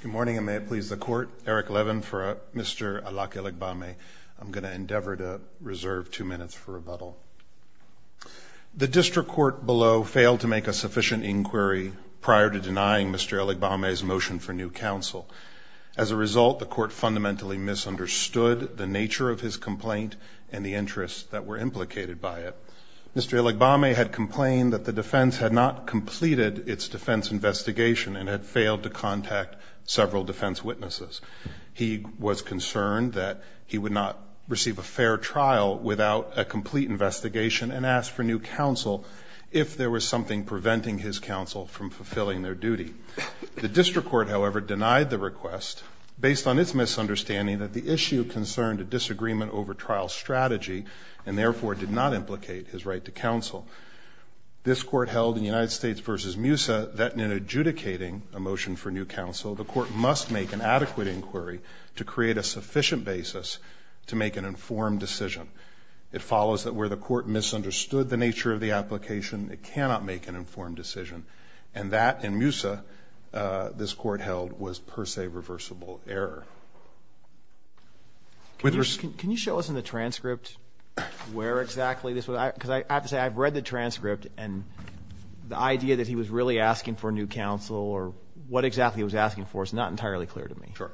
Good morning and may it please the court, Eric Levin for Mr. Alake Ilegbameh. I'm going to endeavor to reserve two minutes for rebuttal. The district court below failed to make a sufficient inquiry prior to denying Mr. Ilegbameh's motion for new counsel. As a result, the court fundamentally misunderstood the nature of his complaint and the interests that were implicated by it. Mr. Ilegbameh had complained that the defense had not completed its defense investigation and had failed to contact several defense witnesses. He was concerned that he would not receive a fair trial without a complete investigation and asked for new counsel if there was something preventing his counsel from fulfilling their duty. The district court, however, denied the request based on its misunderstanding that the issue concerned a disagreement over trial strategy and therefore did not implicate his right to counsel. This Court held in United States v. MUSA that in adjudicating a motion for new counsel, the court must make an adequate inquiry to create a sufficient basis to make an informed decision. It follows that where the court misunderstood the nature of the application, it cannot make an informed decision, and that in MUSA this Court held was per se reversible error. Can you show us in the transcript where exactly this was? Because I have to say I've read the transcript, and the idea that he was really asking for new counsel or what exactly he was asking for is not entirely clear to me. Sure.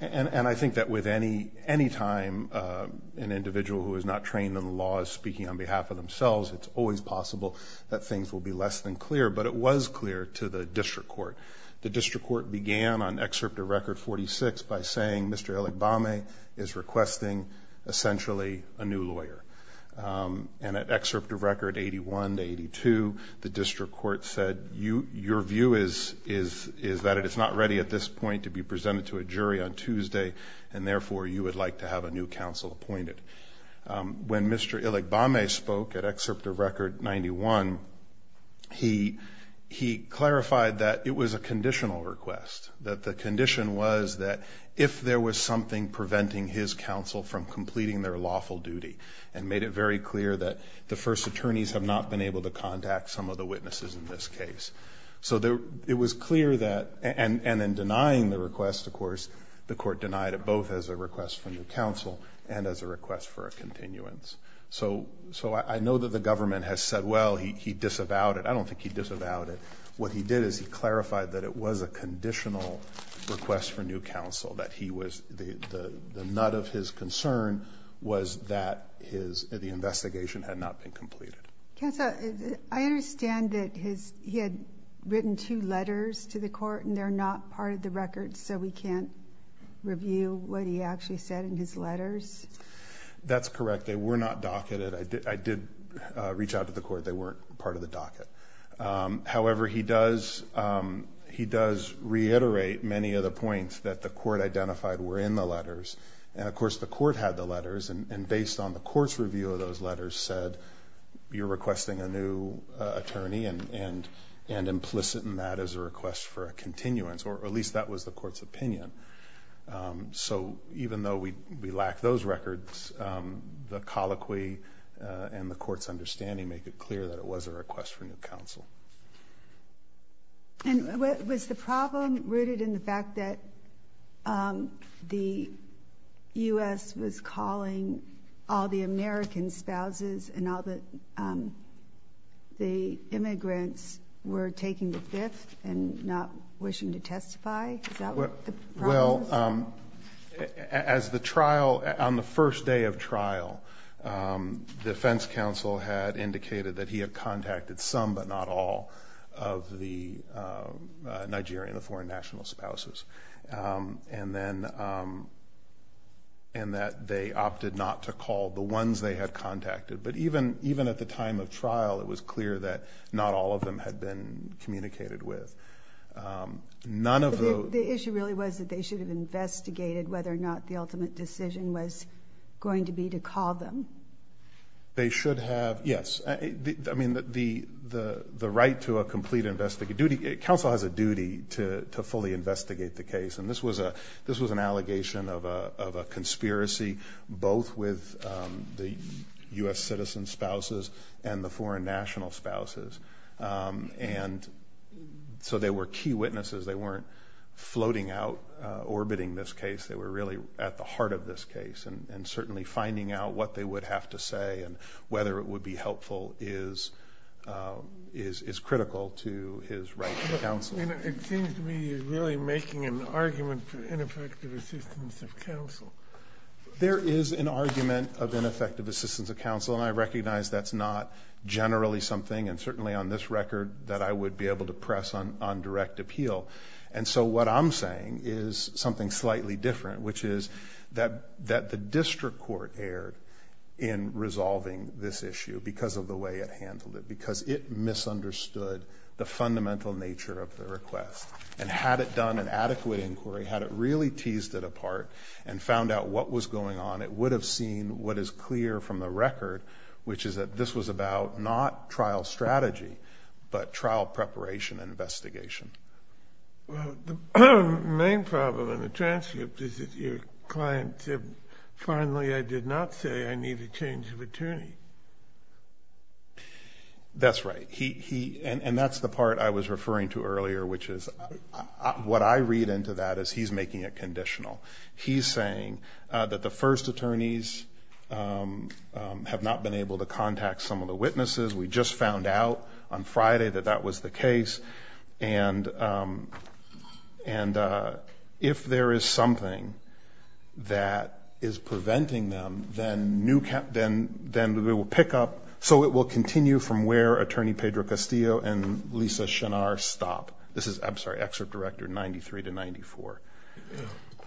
And I think that with any time an individual who is not trained in the law is speaking on behalf of themselves, it's always possible that things will be less than clear. But it was clear to the district court. The district court began on Excerpt of Record 46 by saying Mr. Iligbame is requesting essentially a new lawyer. And at Excerpt of Record 81 to 82 the district court said your view is that it is not ready at this point to be presented to a jury on Tuesday, and therefore you would like to have a new counsel appointed. When Mr. Iligbame spoke at Excerpt of Record 91, he clarified that it was a conditional request, that the condition was that if there was something preventing his counsel from completing their lawful duty, and made it very clear that the first attorneys have not been able to contact some of the witnesses in this case. So it was clear that, and in denying the request, of course, the Court denied it both as a request for new counsel and as a request for a continuance. So I know that the government has said, well, he disavowed it. I don't think he disavowed it. What he did is he clarified that it was a conditional request for new counsel, that he was, the nut of his concern was that the investigation had not been completed. Counsel, I understand that he had written two letters to the court, and they're not part of the record, so we can't review what he actually said in his letters? That's correct. They were not docketed. I did reach out to the court. They weren't part of the docket. However, he does reiterate many of the points that the court identified were in the letters, and of course the court had the letters, and based on the court's review of those letters said, you're requesting a new attorney, and implicit in that is a continuance, or at least that was the court's opinion. So even though we lack those records, the colloquy and the court's understanding make it clear that it was a request for new counsel. And was the problem rooted in the fact that the U.S. was calling all the American spouses and all the immigrants were taking the fifth and not wishing to testify? Is that what the problem was? Well, as the trial, on the first day of trial, the defense counsel had indicated that he had contacted some, but not all, of the Nigerian, the foreign national spouses, and that they were not willing to testify. But even at the time of trial, it was clear that not all of them had been communicated with. The issue really was that they should have investigated whether or not the ultimate decision was going to be to call them? They should have, yes. I mean, the right to a complete investigation, counsel has a duty to fully investigate the case, and this was an allegation of a conspiracy, both with the U.S. citizen spouses and the foreign national spouses. And so they were key witnesses. They weren't floating out, orbiting this case. They were really at the heart of this case, and certainly finding out what they would have to say and whether it would be helpful is critical to his right to counsel. It seems to me you're really making an argument for ineffective assistance of counsel. There is an argument of ineffective assistance of counsel, and I recognize that's not generally something, and certainly on this record, that I would be able to press on direct appeal. And so what I'm saying is something slightly different, which is that the district court erred in resolving this issue because of the way it handled it, because it misunderstood the fundamental nature of the request. And had it done an adequate inquiry, had it really teased it apart and found out what was going on, it would have seen what is clear from the record, which is that this was about not trial strategy but trial preparation and investigation. Well, the main problem in the transcript is that your client said, finally, I did not say I need a change of attorney. That's right. And that's the part I was referring to earlier, which is what I read into that as he's making it conditional. He's saying that the first attorneys have not been able to contact some of the witnesses. We just found out on Friday that that was the case. And if there is something that is preventing them, then we will pick up. So it will continue from where Attorney Pedro Castillo and Lisa Chenard stop. This is, I'm sorry, Excerpt Director 93 to 94.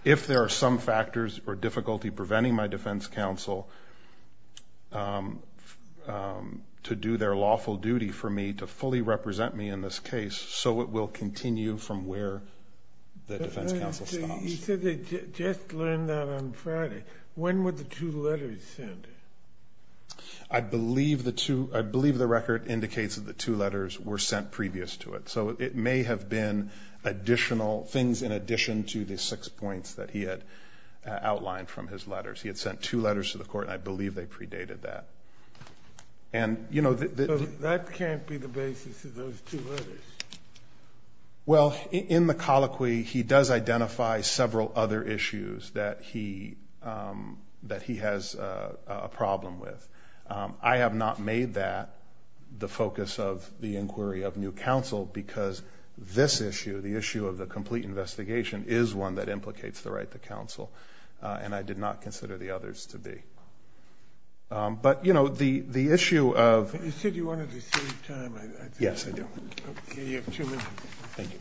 If there are some factors or difficulty preventing my defense counsel to do their lawful duty for me to fully represent me in this case, so it will continue from where the defense counsel stops. You said they just learned that on Friday. When were the two letters sent? I believe the record indicates that the two letters were sent previous to it. So it may have been additional things in addition to the six points that he had outlined from his letters. He had sent two letters to the court, and I believe they predated that. And that can't be the basis of those two letters. Well, in the colloquy, he does identify several other issues that he has identified. I have not made that the focus of the inquiry of new counsel, because this issue, the issue of the complete investigation, is one that implicates the right to counsel. And I did not consider the others to be. But you know, the issue of... You said you wanted to save time. Yes, I do. You have two minutes. Thank you.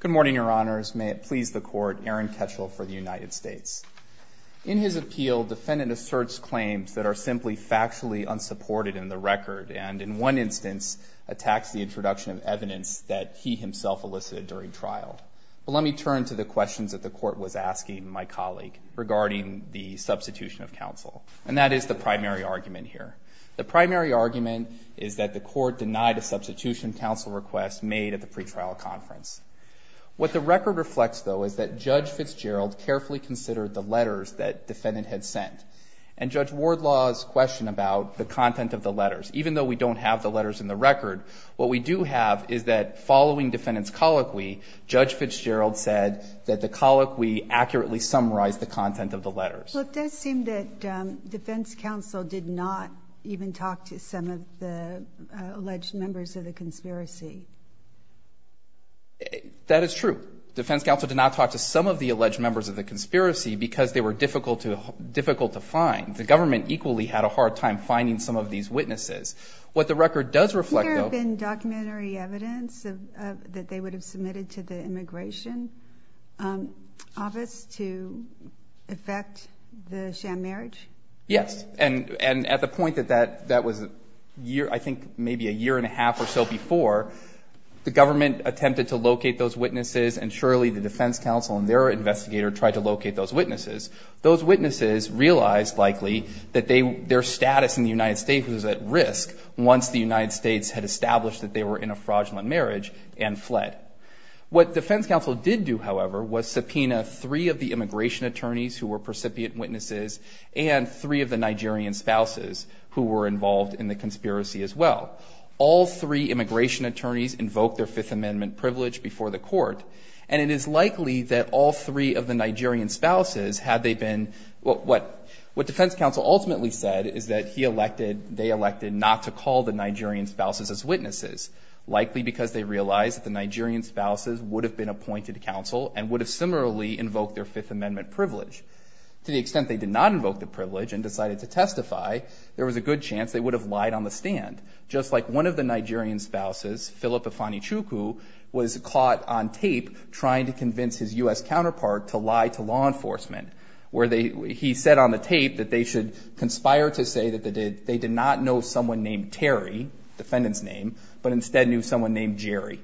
Good morning, Your Honors. May it please the Court, Aaron Ketchel for the United States. In his appeal, defendant asserts claims that are simply factually unsupported in the record, and in one instance, attacks the introduction of evidence that he himself elicited during trial. Well, let me turn to the questions that the Court was asking my colleague regarding And that is the prior question. The primary argument is that the Court denied a substitution counsel request made at the pretrial conference. What the record reflects, though, is that Judge Fitzgerald carefully considered the letters that defendant had sent. And Judge Wardlaw's question about the content of the letters, even though we don't have the letters in the record, what we do have is that following defendant's colloquy, Judge Fitzgerald said that the colloquy accurately summarized the content of the letters. Well, it does seem that defense counsel did not even talk to some of the alleged members of the conspiracy. That is true. Defense counsel did not talk to some of the alleged members of the conspiracy because they were difficult to find. The government equally had a hard time finding some of these witnesses. What the record does reflect, though Has there been documentary evidence that they would have submitted to the Yes. And at the point that that was a year, I think maybe a year and a half or so before, the government attempted to locate those witnesses and surely the defense counsel and their investigator tried to locate those witnesses. Those witnesses realized likely that their status in the United States was at risk once the United States had established that they were in a fraudulent marriage and fled. What defense counsel did do, however, was subpoena three of the immigration attorneys who were precipient witnesses and three of the Nigerian spouses who were involved in the conspiracy as well. All three immigration attorneys invoked their Fifth Amendment privilege before the court. And it is likely that all three of the Nigerian spouses had they been, what defense counsel ultimately said is that he elected, they elected not to call the Nigerian spouses as witnesses, likely because they realized that the Nigerian spouses would have been appointed to counsel and would have similarly invoked their Fifth Amendment privilege. To the extent they did not invoke the privilege and decided to testify, there was a good chance they would have lied on the stand. Just like one of the Nigerian spouses, Philip Afanichukwu, was caught on tape trying to convince his U.S. counterpart to lie to law enforcement. Where they, he said on the tape that they should conspire to say that they did not know someone named Terry, defendant's name, but instead knew someone named Jerry.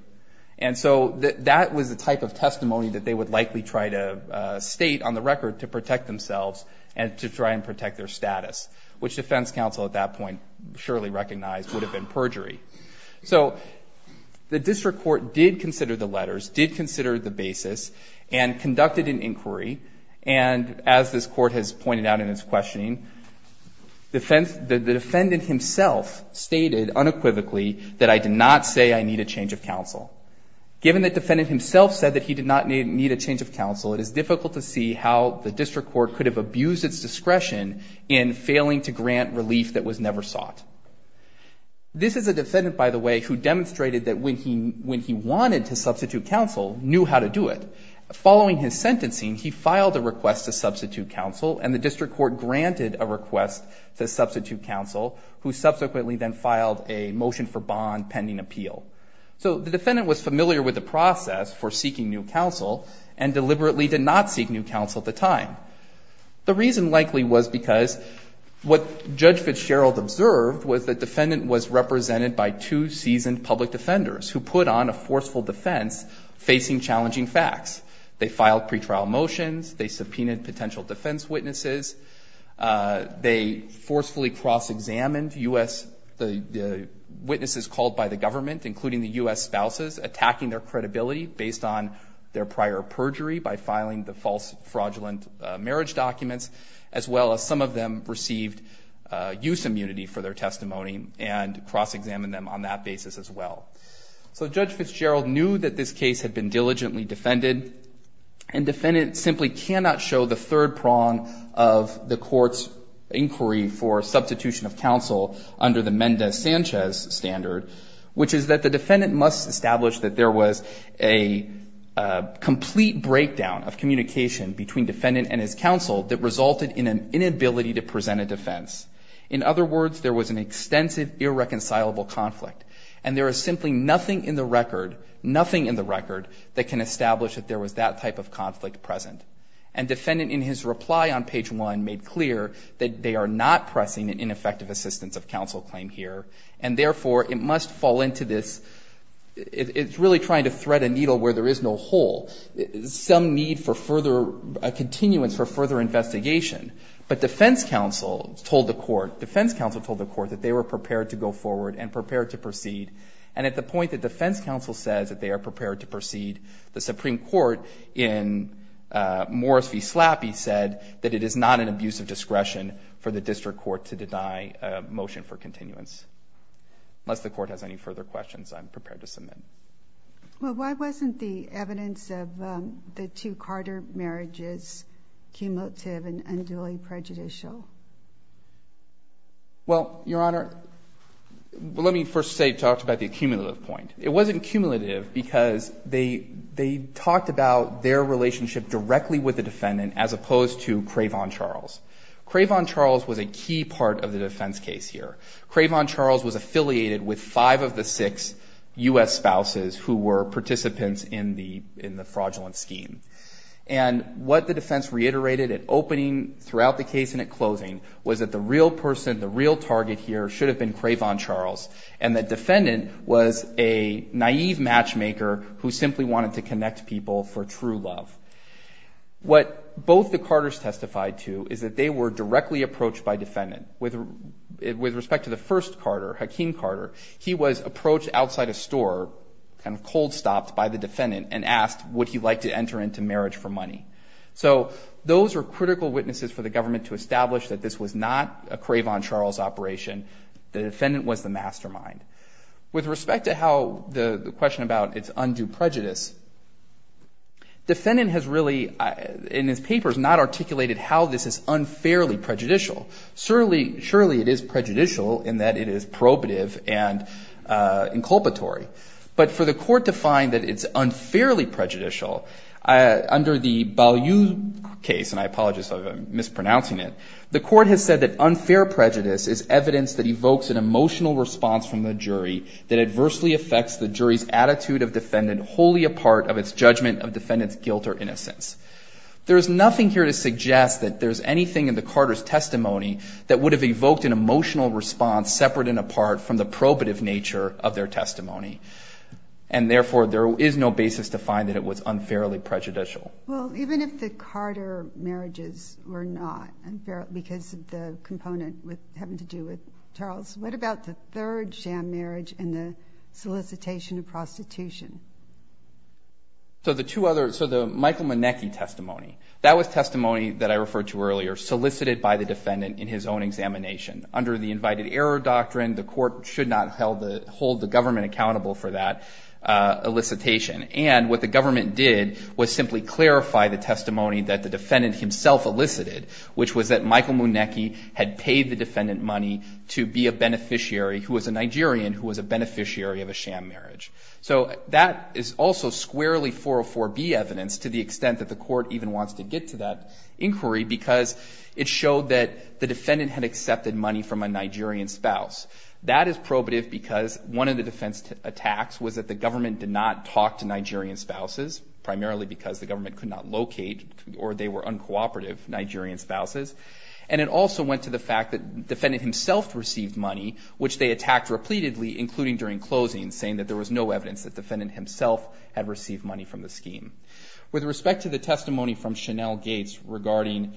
And so that was the type of testimony that they would likely try to state on the record to protect themselves and to try and protect their status, which defense counsel at that point surely recognized would have been perjury. So the district court did consider the letters, did consider the basis, and conducted an inquiry. And as this court has pointed out in its questioning, the defendant himself stated unequivocally that I did not say I need a change of counsel. Given that the defendant himself said that he did not need a change of counsel, it is difficult to see how the district court could have abused its discretion in failing to grant relief that was never sought. This is a defendant, by the way, who demonstrated that when he wanted to substitute counsel, knew how to do it. Following his sentencing, he filed a request to substitute counsel, and the district court granted a request to substitute counsel, who subsequently then filed a motion for bond pending appeal. So the defendant was familiar with the process for seeking new counsel and deliberately did not seek new counsel at the time. The reason likely was because what Judge Fitzgerald observed was the defendant was represented by two seasoned public defenders who put on a forceful defense facing challenging facts. They filed pretrial motions. They subpoenaed potential defense witnesses. They forcefully cross-examined U.S. witnesses called by the government, including the U.S. spouses, attacking their credibility based on their prior perjury by filing the false fraudulent marriage documents, as well as some of them received use immunity for their testimony and cross-examined them on that basis as well. So Judge Fitzgerald knew that this case had been diligently defended, and defendants simply cannot show the third prong of the court's inquiry for substitution of counsel under the Mendez-Sanchez standard, which is that the defendant must establish that there was a complete breakdown of communication between defendant and his counsel that resulted in an inability to present a defense. In other words, there was an extensive irreconcilable conflict, and there is simply nothing in the record, nothing in the record that can establish that there was that type of conflict present. And defendant, in his reply on page 1, made clear that they are not pressing an effective assistance of counsel claim here, and therefore, it must fall into this – it's really trying to thread a needle where there is no hole, some need for further – a continuance for further investigation. But defense counsel told the court, defense counsel told the court that they were prepared to go forward and prepared to proceed, and at the point that defense counsel says that they are prepared to proceed, the Supreme Court in Morris v. Continuance. Unless the court has any further questions, I'm prepared to submit. Well, why wasn't the evidence of the two Carter marriages cumulative and unduly prejudicial? Well, Your Honor, let me first say – talk about the cumulative point. It wasn't cumulative because they – they talked about their relationship directly with the defendant as opposed to Craven-Charles. Craven-Charles was a key part of the defense case here. Craven-Charles was affiliated with five of the six U.S. spouses who were participants in the – in the fraudulent scheme. And what the defense reiterated at opening throughout the case and at closing was that the real person, the real target here should have been Craven-Charles, and the defendant was a naive matchmaker who simply wanted to connect people for true love. What both the Carters testified to is that they were directly approached by defendant. With – with respect to the first Carter, Hakeem Carter, he was approached outside a store, kind of cold-stopped by the defendant, and asked would he like to enter into marriage for money. So those were critical witnesses for the government to establish that this was not a Craven-Charles operation. The defendant was the mastermind. With respect to how the question about its undue prejudice, defendant has really, in his papers, not articulated how this is unfairly prejudicial. Surely – surely it is prejudicial in that it is probative and inculpatory. But for the court to find that it's unfairly prejudicial, under the Balyuk case, and I apologize if I'm mispronouncing it, the court has said that unfair emotional response from the jury that adversely affects the jury's attitude of defendant wholly a part of its judgment of defendant's guilt or innocence. There is nothing here to suggest that there's anything in the Carters' testimony that would have evoked an emotional response separate and apart from the probative nature of their testimony. And therefore, there is no basis to find that it was unfairly prejudicial. Well, even if the Carter marriages were not unfairly – because of the component having to do with Charles, what about the third sham marriage and the solicitation of prostitution? So the two other – so the Michael Monecki testimony, that was testimony that I referred to earlier, solicited by the defendant in his own examination. Under the invited error doctrine, the court should not hold the government accountable for that elicitation. which was that Michael Monecki had paid the defendant money to be a beneficiary who was a Nigerian who was a beneficiary of a sham marriage. So that is also squarely 404B evidence, to the extent that the court even wants to get to that inquiry, because it showed that the defendant had accepted money from a Nigerian spouse. That is probative because one of the defense attacks was that the government did not talk to Nigerian spouses, primarily because the government could not locate or they were uncooperative Nigerian spouses. And it also went to the fact that the defendant himself received money, which they attacked repeatedly, including during closing, saying that there was no evidence that the defendant himself had received money from the scheme. With respect to the testimony from Chanel Gates regarding the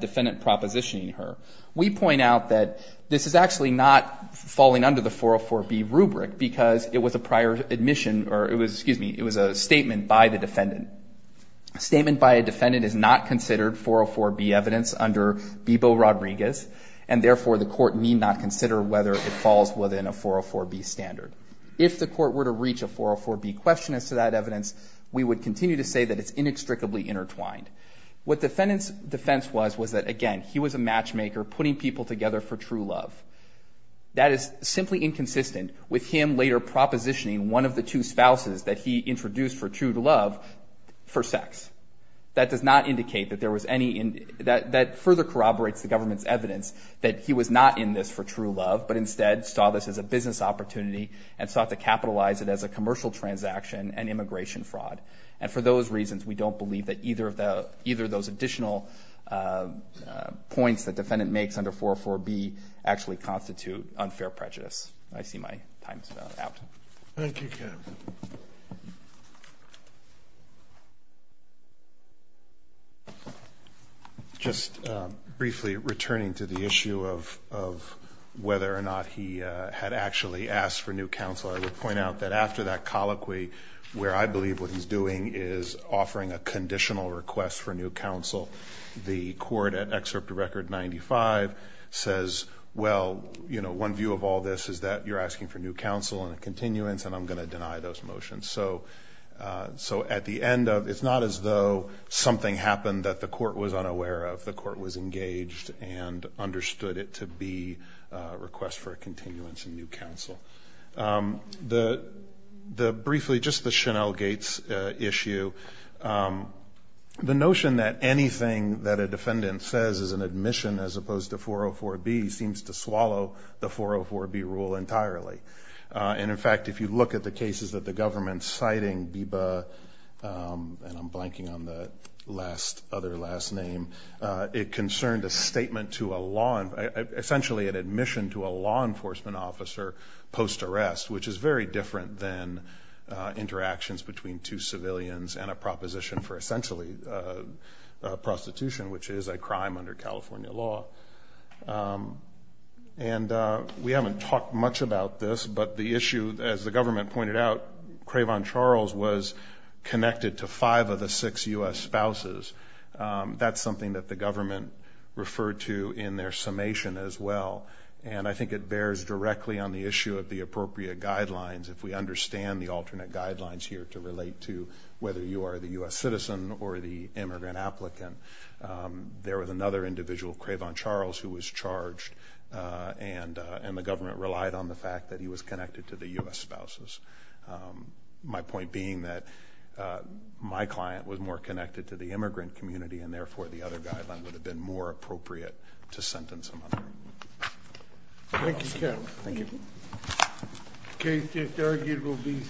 defendant propositioning her, we point out that this is actually not falling under the 404B rubric, because it was a prior admission – or excuse me, it was a statement by the defendant. A statement by a defendant is not considered 404B evidence under BIBO-Rodriguez, and therefore the court need not consider whether it falls within a 404B standard. If the court were to reach a 404B question as to that evidence, we would continue to say that it's inextricably intertwined. What the defendant's defense was, was that, again, he was a matchmaker putting people together for true love. That is simply inconsistent with him later propositioning one of the two spouses that he introduced for true love for sex. That does not indicate that there was any – that further corroborates the government's evidence that he was not in this for true love, but instead saw this as a business opportunity and sought to capitalize it as a commercial transaction and immigration fraud. And for those reasons, we don't believe that either of those additional points the defendant makes under 404B actually constitute unfair prejudice. I see my time is now out. Thank you, Kevin. Just briefly returning to the issue of whether or not he had actually asked for new counsel, I would point out that after that colloquy, where I believe what he's doing is offering a conditional request for new counsel, the court at Excerpt to Record 95 says, well, you know, one view of all this is that you're asking for new counsel and a continuance, and I'm going to deny those motions. So at the end of – it's not as though something happened that the court was unaware of. The court was engaged and understood it to be a request for a continuance and new counsel. Briefly, just the Chanel Gates issue, the notion that anything that a defendant says is an admission as opposed to 404B seems to swallow the 404B rule entirely. And, in fact, if you look at the cases that the government's citing, BIBA – and I'm blanking on the other last name – it concerned a statement to a law – essentially an admission to a law enforcement officer post-arrest, which is very different than interactions between two civilians and a proposition for essentially prostitution, which is a crime under California law. And we haven't talked much about this, but the issue, as the government pointed out, Craven Charles was connected to five of the six U.S. spouses. That's something that the government referred to in their summation as well, and I think it bears directly on the issue of the appropriate guidelines, if we understand the alternate guidelines here to relate to whether you are the U.S. citizen or the immigrant applicant. There was another individual, Craven Charles, who was charged, and the government relied on the fact that he was connected to the U.S. spouses. My point being that my client was more connected to the immigrant community, and therefore the other guideline would have been more appropriate to sentence him under. Thank you, Captain. Thank you.